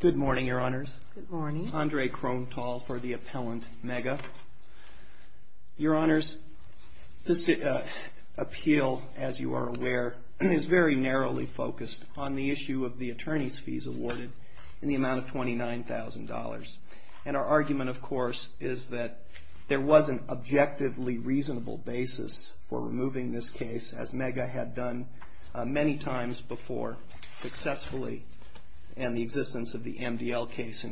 Good morning, your honors. Good morning. Andre Kronthal for the appellant, MEGA. Your honors, this appeal, as you are aware, is very narrowly focused on the issue of the attorney's fees awarded in the amount of $29,000. And our argument, of course, is that there was an objectively reasonable basis for removing this case, as MEGA had done many times before successfully, and the existence of the MDL case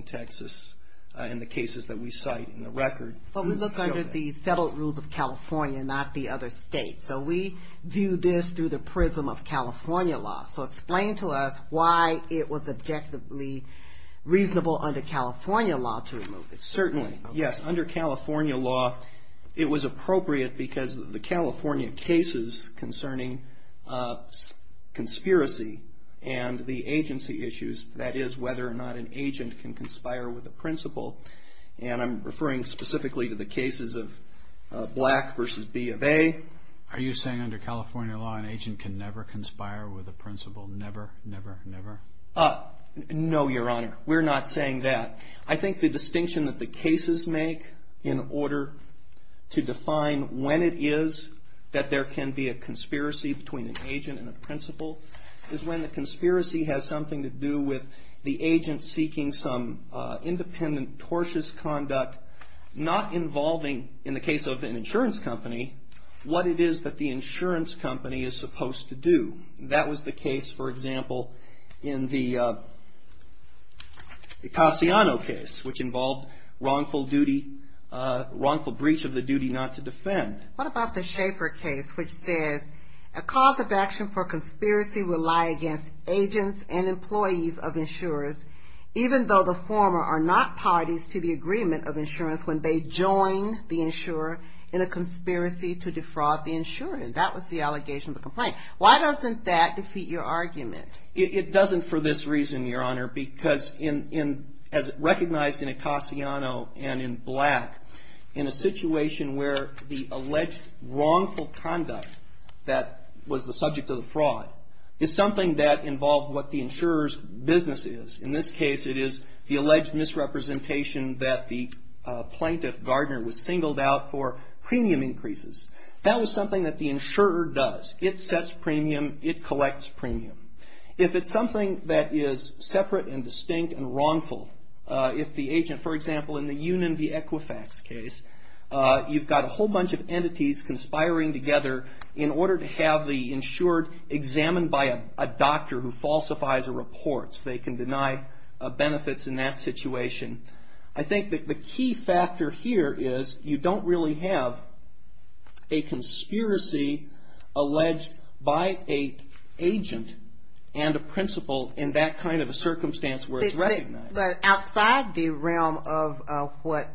in the cases that we cite in the record. But we look under the settled rules of California, not the other states. So we view this through the prism of California law. So explain to us why it was objectively reasonable under California law to remove it. Certainly, yes. Under California law, it was appropriate because the California cases concerning conspiracy and the agency issues, that is whether or not an agent can conspire with a principal. And I'm referring specifically to the cases of Black v. B of A. Are you saying under California law an agent can never conspire with a principal? Never, never, never? No, your honor. We're not saying that. I think the distinction that the cases make in order to define when it is that there can be a conspiracy between an agent and a principal is that it has to do with the agent seeking some independent, tortuous conduct, not involving, in the case of an insurance company, what it is that the insurance company is supposed to do. That was the case, for example, in the Cassiano case, which involved wrongful duty, wrongful breach of the duty not to defend. What about the Schaefer case, which says, a cause of action for conspiracy will lie against agents and employees of insurers, even though the former are not parties to the agreement of insurance when they join the insurer in a conspiracy to defraud the insurer. And that was the allegation of the complaint. Why doesn't that defeat your argument? It doesn't for this reason, your honor, because as recognized in a Cassiano and in Black, in a situation where the alleged wrongful conduct that was the subject of the fraud is something that involved what the insurer's business is. In this case, it is the alleged misrepresentation that the plaintiff, Gardner, was singled out for premium increases. That was something that the insurer does. It sets premium. It collects premium. If it's something that is separate and distinct and wrongful, if the agent, for example, in the Union v. Equifax case, you've got a whole bunch of entities conspiring together in order to have the insured examined by a doctor who falsifies a report so they can deny benefits in that situation. I think that the key factor here is you don't really have a conspiracy alleged by an agent and a principal in that kind of a circumstance where it's recognized. But outside the realm of what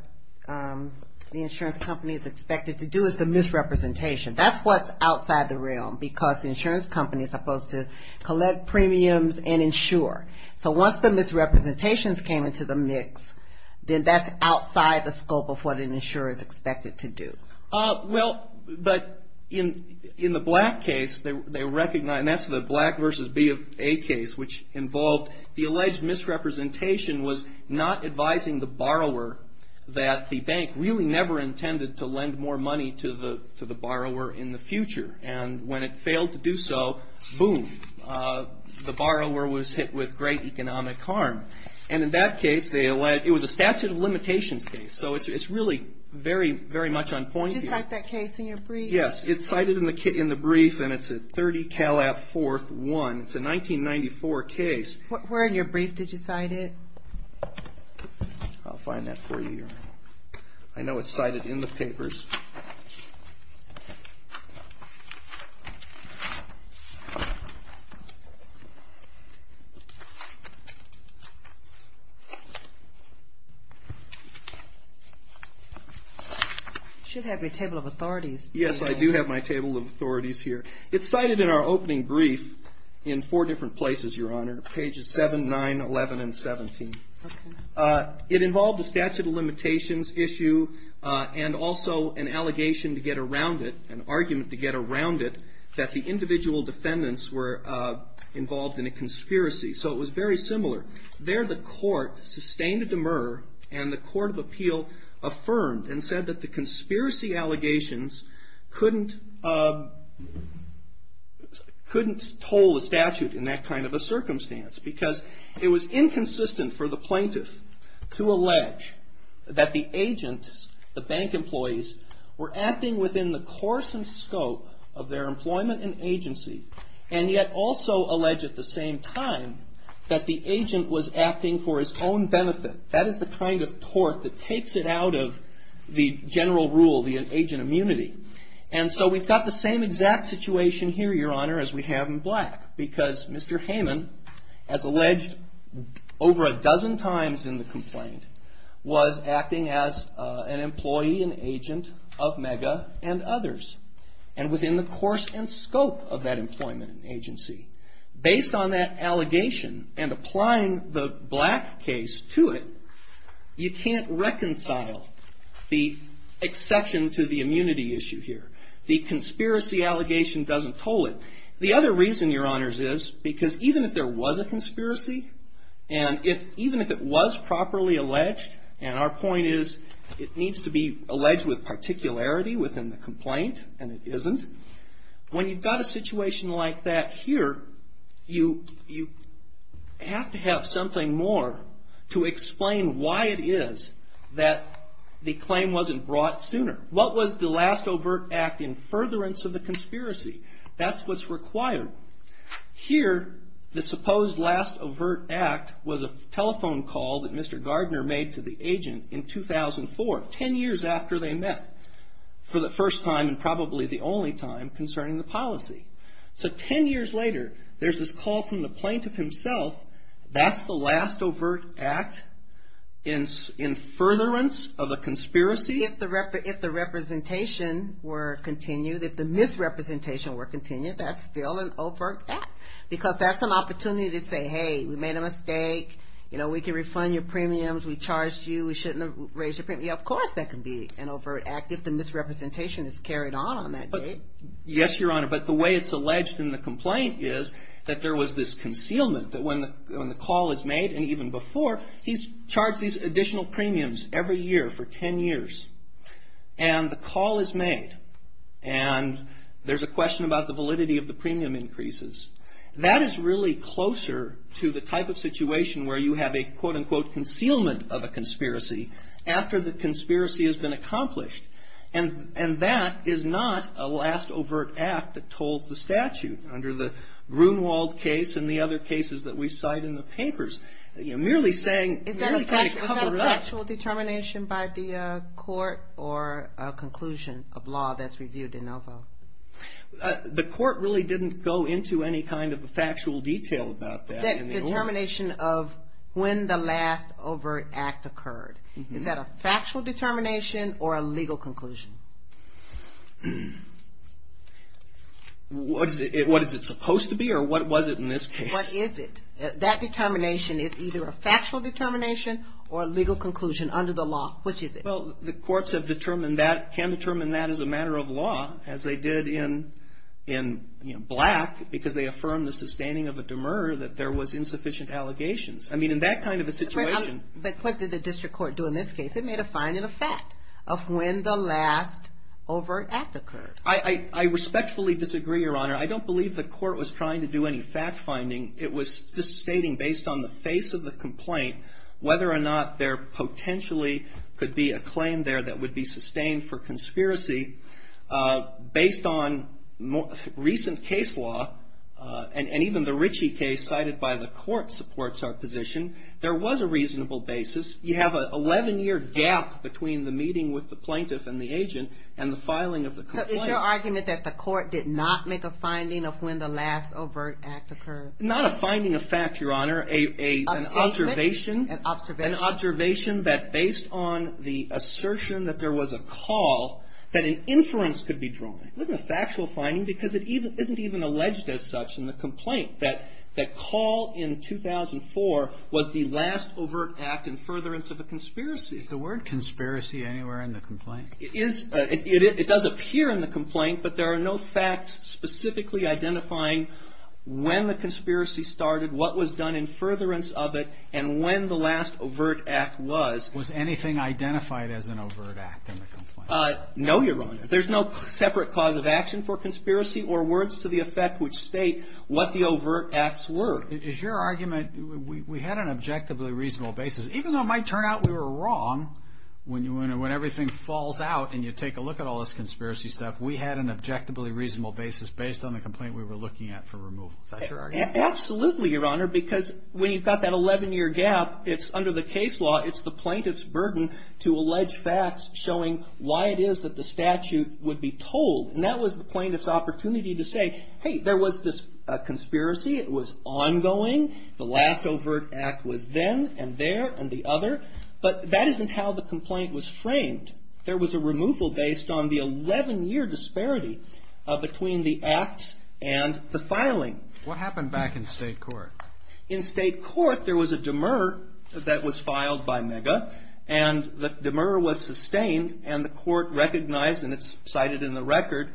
the insurance company is expected to do is the misrepresentation. That's what's outside the realm because the insurance company is supposed to collect premiums and insure. So once the misrepresentations came into the mix, then that's outside the scope of what an insurer is expected to do. Well, but in the Black case, they recognize that's the Black v. B of A case, which involved the alleged misrepresentation was not advising the borrower that the bank really never intended to lend more money to the borrower in the future. And when it failed to do so, boom, the borrower was hit with great economic harm. And in that case, it was a statute of limitations case. So it's really very, very much on point here. Did you cite that case in your brief? Yes. It's cited in the brief, and it's at 30 Calab 4th 1. It's a 1994 case. Where in your brief did you cite it? I'll find that for you. I know it's cited in the papers. You should have your table of authorities. Yes, I do have my table of authorities here. It's cited in our opening brief in four different places, Your Honor. Pages 7, 9, 11, and 17. Okay. It involved a statute of limitations issue and also an allegation to get around it, an argument to get around it, that the individual defendants were involved in a conspiracy. So it was very similar. There the court sustained a demur and the court of appeal affirmed and said that the conspiracy allegations couldn't toll the statute in that kind of a circumstance because it was inconsistent for the plaintiff to allege that the agent, the bank employees, were acting within the course and scope of their employment and agency and yet also allege at the same time that the agent was acting for his own benefit. That is the kind of tort that takes it out of the general rule, the agent immunity. And so we've got the same exact situation here, Your Honor, as we have in Black because Mr. Hayman, as alleged over a dozen times in the complaint, was acting as an employee and agent of Mega and others and within the course and scope of that employment agency. Based on that allegation and applying the Black case to it, you can't reconcile the exception to the immunity issue here. The conspiracy allegation doesn't toll it. The other reason, Your Honors, is because even if there was a conspiracy and even if it was properly alleged, and our point is it needs to be alleged with particularity within the complaint and it isn't. When you've got a situation like that here, you have to have something more to explain why it is that the claim wasn't brought sooner. What was the last overt act in furtherance of the conspiracy? That's what's required. Here, the supposed last overt act was a telephone call that Mr. Gardner made to the agent in 2004, 10 years after they met for the first time and probably the only time concerning the policy. So 10 years later, there's this call from the plaintiff himself. That's the last overt act in furtherance of the conspiracy? If the representation were continued, if the misrepresentation were continued, that's still an overt act because that's an opportunity to say, hey, we made a mistake. You know, we can refund your premiums. We charged you. We shouldn't have raised your premium. Of course that can be an overt act if the misrepresentation is carried on on that date. Yes, Your Honor, but the way it's alleged in the complaint is that there was this concealment that when the call is made and even before, he's charged these additional premiums every year for 10 years and the call is made and there's a question about the validity of the premium increases. That is really closer to the type of situation where you have a, quote-unquote, concealment of a conspiracy after the conspiracy has been accomplished. And that is not a last overt act that tolls the statute under the Grunewald case and the other cases that we cite in the papers. You're merely saying we have to kind of cover it up. Was that a factual determination by the court or a conclusion of law that's reviewed in no vote? The court really didn't go into any kind of factual detail about that. Determination of when the last overt act occurred. Is that a factual determination or a legal conclusion? What is it supposed to be or what was it in this case? What is it? That determination is either a factual determination or a legal conclusion under the law. Which is it? Well, the courts have determined that, can determine that as a matter of law as they did in, you know, Black because they affirmed the sustaining of a demur that there was insufficient allegations. I mean, in that kind of a situation. But what did the district court do in this case? It made a finding of fact of when the last overt act occurred. I respectfully disagree, Your Honor. I don't believe the court was trying to do any fact finding. It was just stating based on the face of the complaint whether or not there potentially could be a claim there that would be sustained for conspiracy. Based on recent case law and even the Ritchie case cited by the court supports our position. There was a reasonable basis. You have an 11-year gap between the meeting with the plaintiff and the agent and the filing of the complaint. So it's your argument that the court did not make a finding of when the last overt act occurred? Not a finding of fact, Your Honor. An observation. An observation. An observation that based on the assertion that there was a call, that an inference could be drawn. It wasn't a factual finding because it isn't even alleged as such in the complaint that the call in 2004 was the last overt act in furtherance of a conspiracy. Is the word conspiracy anywhere in the complaint? It is. It does appear in the complaint. But there are no facts specifically identifying when the conspiracy started, what was done in furtherance of it, and when the last overt act was. Was anything identified as an overt act in the complaint? No, Your Honor. There's no separate cause of action for conspiracy or words to the effect which state what the overt acts were. Is your argument we had an objectively reasonable basis, even though it might turn out we were wrong, when everything falls out and you take a look at all this conspiracy stuff, we had an objectively reasonable basis based on the complaint we were looking at for removal. Is that your argument? Absolutely, Your Honor, because when you've got that 11-year gap, it's under the case law, it's the plaintiff's burden to allege facts showing why it is that the statute would be told. And that was the plaintiff's opportunity to say, hey, there was this conspiracy. It was ongoing. The last overt act was then and there and the other. But that isn't how the complaint was framed. There was a removal based on the 11-year disparity between the acts and the filing. What happened back in state court? In state court, there was a demur that was filed by Mega and the demur was sustained and the court recognized, and it's cited in the record,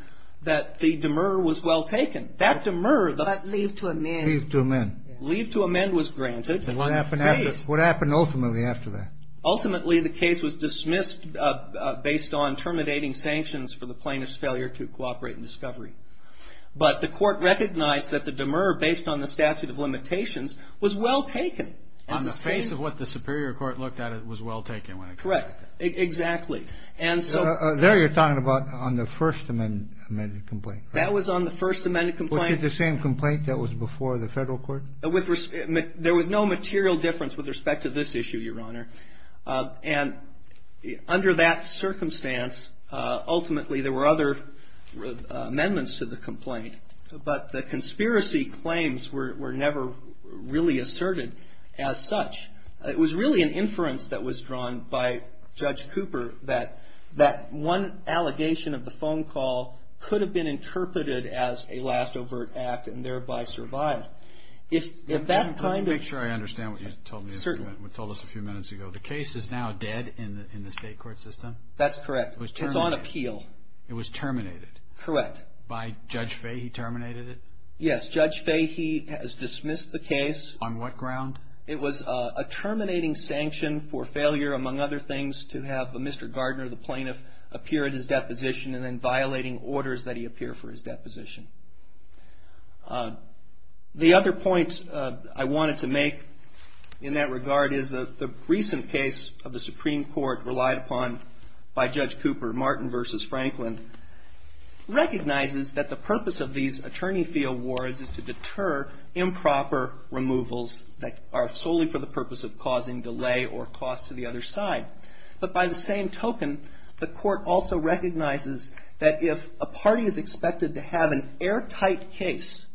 that the demur was well taken. That demur. That leave to amend. Leave to amend. Leave to amend was granted. What happened ultimately after that? Ultimately, the case was dismissed based on terminating sanctions for the plaintiff's failure to cooperate in discovery. But the court recognized that the demur based on the statute of limitations was well taken. On the face of what the superior court looked at, it was well taken. Correct. Exactly. There you're talking about on the first amended complaint. That was on the first amended complaint. Was it the same complaint that was before the federal court? There was no material difference with respect to this issue, Your Honor. And under that circumstance, ultimately there were other amendments to the complaint. But the conspiracy claims were never really asserted as such. It was really an inference that was drawn by Judge Cooper that that one allegation of the phone call could have been interpreted as a last overt act and thereby survived. If that kind of. Make sure I understand what you told me. Certainly. You told us a few minutes ago the case is now dead in the state court system. That's correct. It's on appeal. It was terminated. Correct. By Judge Fahy terminated it? Yes. Judge Fahy has dismissed the case. On what ground? It was a terminating sanction for failure, among other things, to have a Mr. Gardner, the plaintiff, appear at his deposition and then violating orders that he appear for his deposition. The other point I wanted to make in that regard is the recent case of the Supreme Court relied upon by Judge Cooper, Martin v. Franklin, recognizes that the purpose of these attorney fee awards is to deter improper removals that are solely for the purpose of causing delay or cost to the other side. But by the same token, the court also recognizes that if a party is expected to have an improper removal, an airtight case,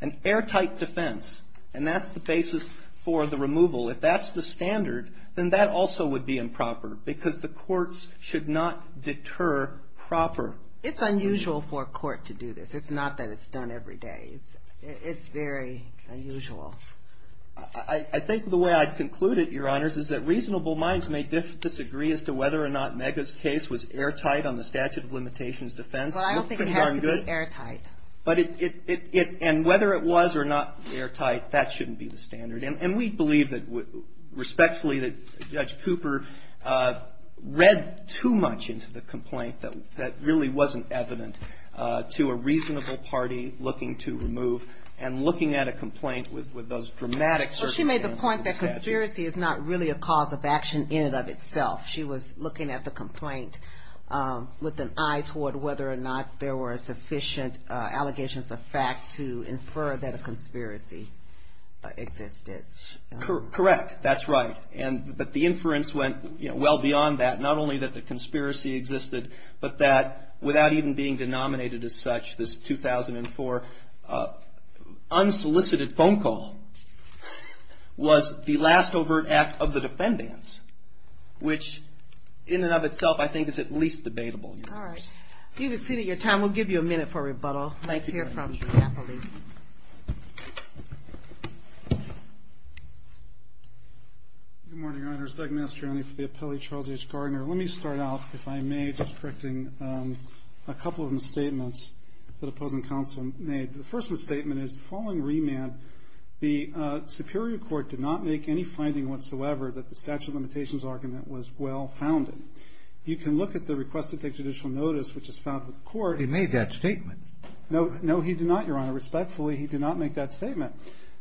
an airtight defense, and that's the basis for the removal, if that's the standard, then that also would be improper because the courts should not deter proper removal. It's unusual for a court to do this. It's not that it's done every day. It's very unusual. I think the way I'd conclude it, Your Honors, is that reasonable minds may disagree as to whether or not Megha's case was airtight on the statute of limitations defense. But I don't think it has to be airtight. And whether it was or not airtight, that shouldn't be the standard. And we believe respectfully that Judge Cooper read too much into the complaint that really wasn't evident to a reasonable party looking to remove and looking at a complaint with those dramatic circumstances of the statute. Well, she made the point that conspiracy is not really a cause of action in and of itself. She was looking at the complaint with an eye toward whether or not there were sufficient allegations of fact to infer that a conspiracy existed. Correct. That's right. But the inference went well beyond that, not only that the conspiracy existed, but that without even being denominated as such, this 2004 unsolicited phone call was the last overt act of the defendants, which in and of itself I think is at least debatable. All right. You have exceeded your time. We'll give you a minute for rebuttal. Thanks again. I hear from you happily. Good morning, Your Honors. Doug Mastroianni for the appellee, Charles H. Gardner. Let me start off, if I may, just correcting a couple of misstatements that opposing counsel made. The first misstatement is the following remand, the superior court did not make any finding whatsoever that the statute of limitations argument was well founded. You can look at the request to take judicial notice, which is found with the court. He made that statement. No, he did not, Your Honor. Respectfully, he did not make that statement.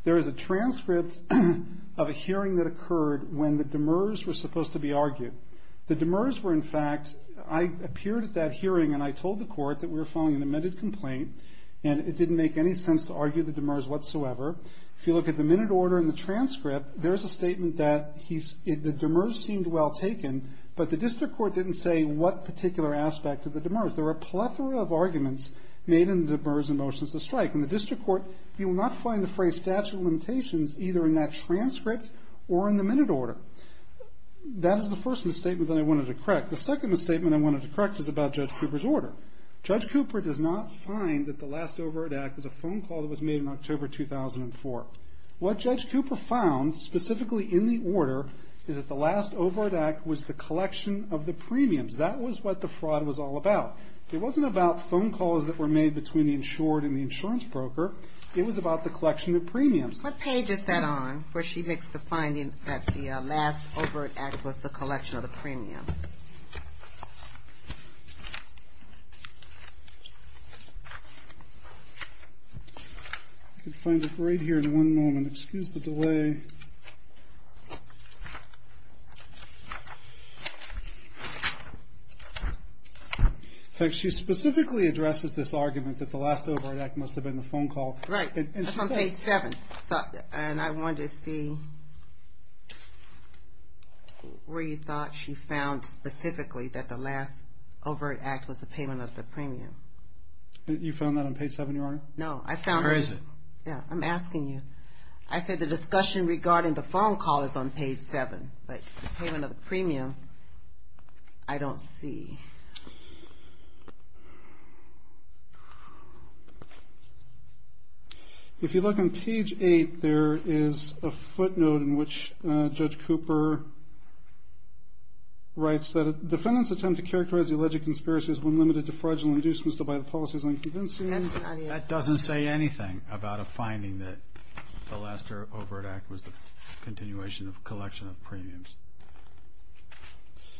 There is a transcript of a hearing that occurred when the demurs were supposed to be argued. The demurs were, in fact, I appeared at that hearing and I told the court that we were filing an amended complaint, and it didn't make any sense to argue the demurs whatsoever. If you look at the minute order in the transcript, there is a statement that the demurs seemed well taken, but the district court didn't say what particular aspect of the demurs. There were a plethora of arguments made in the demurs' motions to strike. In the district court, you will not find the phrase statute of limitations either in that transcript or in the minute order. That is the first misstatement that I wanted to correct. The second misstatement I wanted to correct is about Judge Cooper's order. Judge Cooper does not find that the last override act was a phone call that was made in October 2004. What Judge Cooper found specifically in the order is that the last override act was the collection of the premiums. That was what the fraud was all about. It wasn't about phone calls that were made between the insured and the insurance broker. It was about the collection of premiums. What page is that on where she makes the finding that the last override act was the collection of the premiums? I can find it right here in one moment. Excuse the delay. She specifically addresses this argument that the last override act must have been the phone call. Right. That's on page 7. And I wanted to see where you thought she found specifically that the last override act was the payment of the premium. You found that on page 7, Your Honor? No. Where is it? I'm asking you. I said the discussion regarding the phone call is on page 7. But the payment of the premium, I don't see. If you look on page 8, there is a footnote in which Judge Cooper writes that a defendant's attempt to characterize the alleged conspiracy is when limited to fraudulent inducements by the policy is unconvincing. That doesn't say anything about a finding that the last override act was the continuation of a collection of premiums.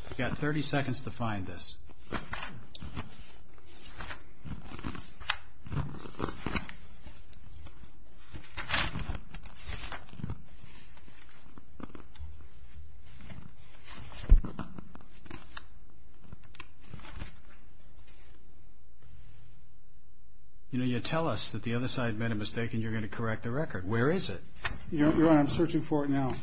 You've got 30 seconds to find this. You know, you tell us that the other side made a mistake and you're going to correct the record. Where is it? Your Honor, I'm searching for it now.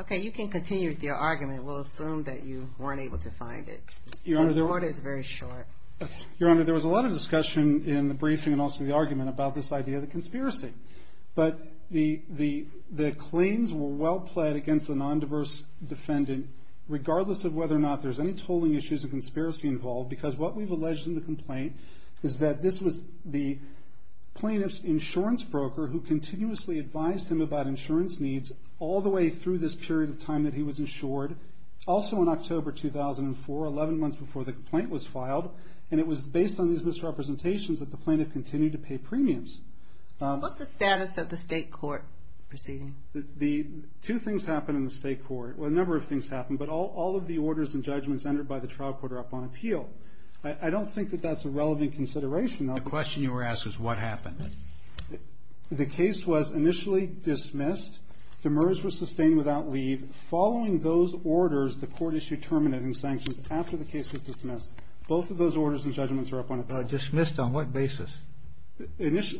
Okay. You can continue with your argument. We'll assume that you weren't able to find it. Your Honor, there was a lot of discussion in the briefing and also the argument about this idea of the conspiracy. But the claims were well pled against the non-diverse defendant, regardless of whether or not there's any tolling issues or conspiracy involved. Because what we've alleged in the complaint is that this was the plaintiff's insurance broker who continuously advised him about insurance needs all the way through this period of time that he was insured. Also in October 2004, 11 months before the complaint was filed. And it was based on these misrepresentations that the plaintiff continued to pay premiums. What's the status of the state court proceeding? Two things happened in the state court. Well, a number of things happened. But all of the orders and judgments entered by the trial court are up on appeal. I don't think that that's a relevant consideration. The question you were asked is what happened. The case was initially dismissed. Demers was sustained without leave. Following those orders, the court issued terminating sanctions after the case was dismissed. Both of those orders and judgments are up on appeal. Dismissed on what basis?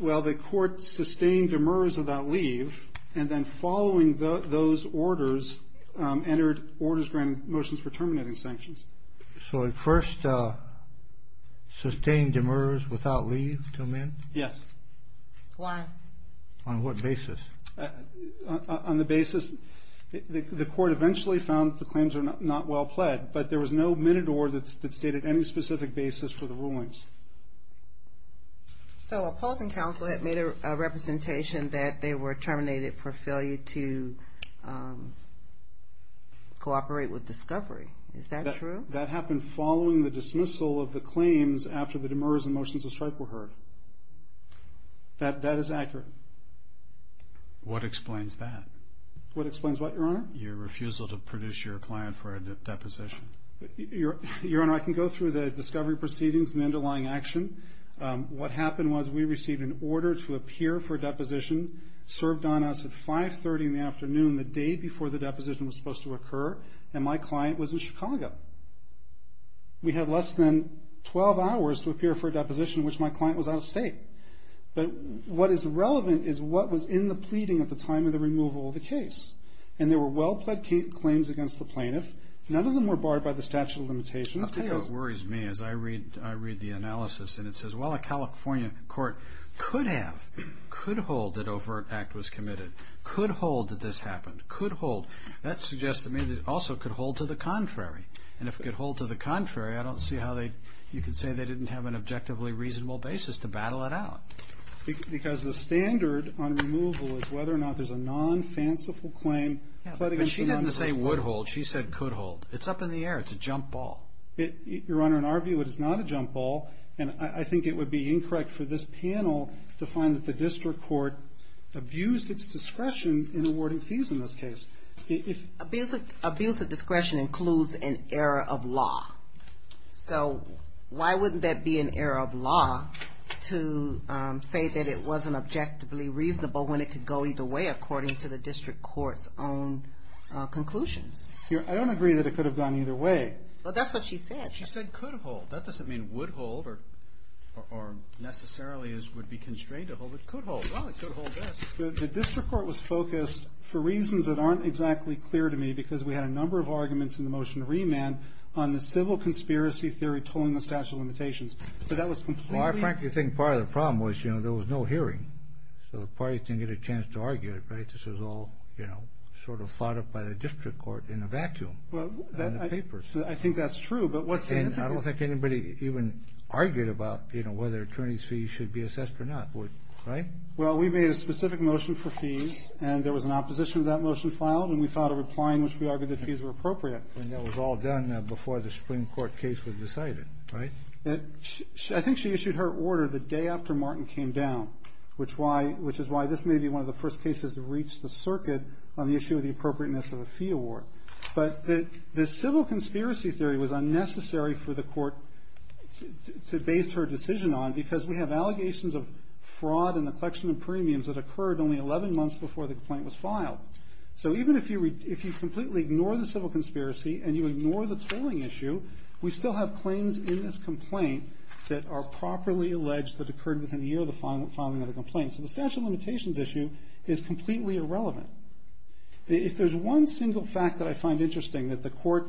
Well, the court sustained Demers without leave. And then following those orders, entered orders granting motions for terminating sanctions. So it first sustained Demers without leave until then? Yes. Why? On what basis? On the basis, the court eventually found that the claims are not well pled, but there was no minute or that stated any specific basis for the rulings. So opposing counsel had made a representation that they were terminated for failure to cooperate with discovery. Is that true? That happened following the dismissal of the claims after the Demers and motions of strike were heard. That is accurate. What explains that? What explains what, Your Honor? Your refusal to produce your client for a deposition. Your Honor, I can go through the discovery proceedings and the underlying action. What happened was we received an order to appear for a deposition, served on us at 530 in the afternoon, the day before the deposition was supposed to occur, and my client was in Chicago. We had less than 12 hours to appear for a deposition, which my client was out of state. But what is relevant is what was in the pleading at the time of the removal of the case. And there were well-pled claims against the plaintiff. None of them were barred by the statute of limitations. I'll tell you what worries me as I read the analysis. And it says, well, a California court could have, could hold that overt act was committed, could hold that this happened, could hold. That suggests to me that it also could hold to the contrary. And if it could hold to the contrary, I don't see how you could say they didn't have an objectively reasonable basis to battle it out. Because the standard on removal is whether or not there's a non-fanciful claim. But she didn't say would hold. She said could hold. It's up in the air. It's a jump ball. Your Honor, in our view, it is not a jump ball. And I think it would be incorrect for this panel to find that the district court abused its discretion in awarding fees in this case. Abuse of discretion includes an error of law. So why wouldn't that be an error of law to say that it wasn't objectively reasonable when it could go either way according to the district court's own conclusions? Your Honor, I don't agree that it could have gone either way. But that's what she said. She said could hold. That doesn't mean would hold or necessarily would be constrained to hold. It could hold. Well, it could hold this. The district court was focused, for reasons that aren't exactly clear to me, because we had a number of arguments in the motion to remand on the civil conspiracy theory tolling the statute of limitations. But that was completely Well, I frankly think part of the problem was there was no hearing. So the parties didn't get a chance to argue it, right? This was all, you know, sort of thought up by the district court in a vacuum in the papers. I think that's true. And I don't think anybody even argued about, you know, whether attorneys' fees should be assessed or not, right? Well, we made a specific motion for fees, and there was an opposition to that motion filed, and we filed a reply in which we argued that fees were appropriate. And that was all done before the Supreme Court case was decided, right? I think she issued her order the day after Martin came down, which is why this may be one of the first cases to reach the circuit on the issue of the appropriateness of a fee award. But the civil conspiracy theory was unnecessary for the court to base her decision on because we have allegations of fraud in the collection of premiums that occurred only 11 months before the complaint was filed. So even if you completely ignore the civil conspiracy and you ignore the tolling issue, we still have claims in this complaint that are properly alleged that occurred within a year of the filing of the complaint. So the statute of limitations issue is completely irrelevant. If there's one single fact that I find interesting that the court,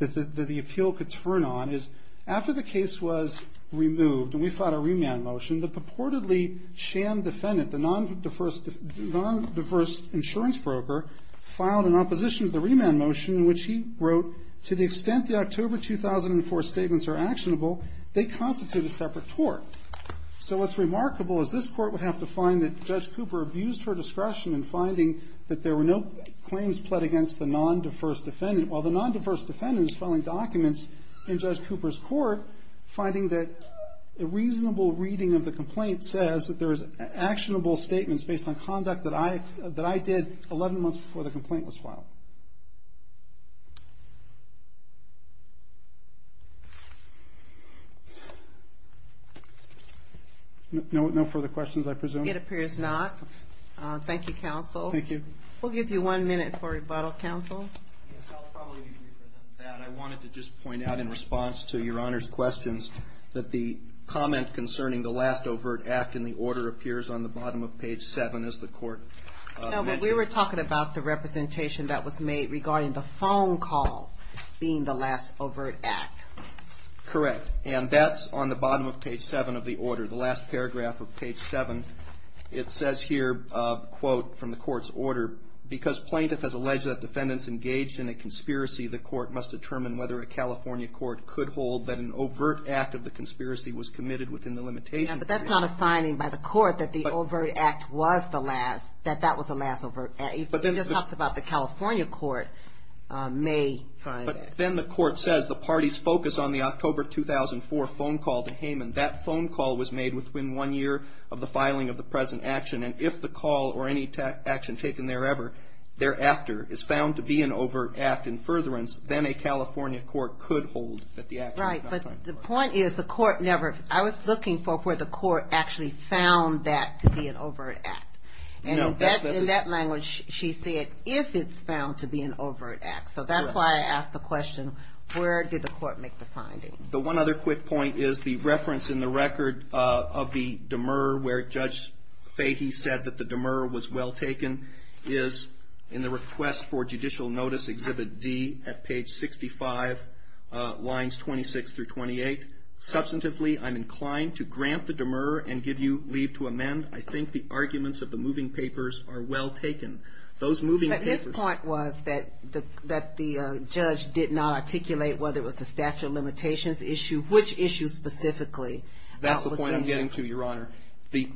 that the appeal could turn on is after the case was removed and we filed a remand motion, the purportedly sham defendant, the non-diverse insurance broker, filed an opposition to the remand motion in which he wrote, to the extent the October 2004 statements are actionable, they constitute a separate court. So what's remarkable is this court would have to find that Judge Cooper abused her discretion in finding that there were no claims pled against the non-diverse defendant, while the non-diverse defendant is filing documents in Judge Cooper's court, finding that a reasonable reading of the complaint says that there is actionable statements based on conduct that I did 11 months before the complaint was filed. No further questions, I presume? It appears not. Thank you, counsel. Thank you. We'll give you one minute for rebuttal, counsel. Yes, I'll probably agree with that. I wanted to just point out in response to Your Honor's questions that the comment concerning the last overt act in the order appears on the bottom of page 7, as the court mentioned. No, but we were talking about the representation that was made regarding the phone call being the last overt act. Correct, and that's on the bottom of page 7 of the order, the last paragraph of page 7. It says here, quote, from the court's order, because plaintiff has alleged that defendant's engaged in a conspiracy, the court must determine whether a California court could hold that an overt act of the conspiracy was committed within the limitations of the conspiracy. Yes, but that's not a finding by the court that the overt act was the last, that that was the last overt act. It just talks about the California court may find that. But then the court says the party's focus on the October 2004 phone call to Hayman, that phone call was made within one year of the filing of the present action, and if the call or any action taken thereafter is found to be an overt act, in furtherance, then a California court could hold that the action was not an overt act. Right, but the point is the court never, I was looking for where the court actually found that to be an overt act. And in that language, she said, if it's found to be an overt act. So that's why I asked the question, where did the court make the finding? The one other quick point is the reference in the record of the demur, where Judge Fahey said that the demur was well taken, is in the request for judicial notice exhibit D at page 65, lines 26 through 28. Substantively, I'm inclined to grant the demur and give you leave to amend. I think the arguments of the moving papers are well taken. Those moving papers. But his point was that the judge did not articulate whether it was a statute of limitations issue, which issue specifically. That's the point I'm getting to, Your Honor. The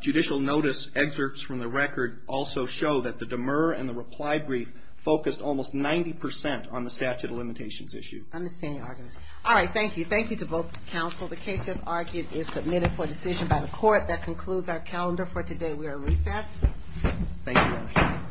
judicial notice excerpts from the record also show that the demur and the reply brief focused almost 90% on the statute of limitations issue. I understand, Your Honor. All right, thank you. Thank you to both counsel. The case as argued is submitted for decision by the court. That concludes our calendar for today. We are recessed. Thank you, Your Honor.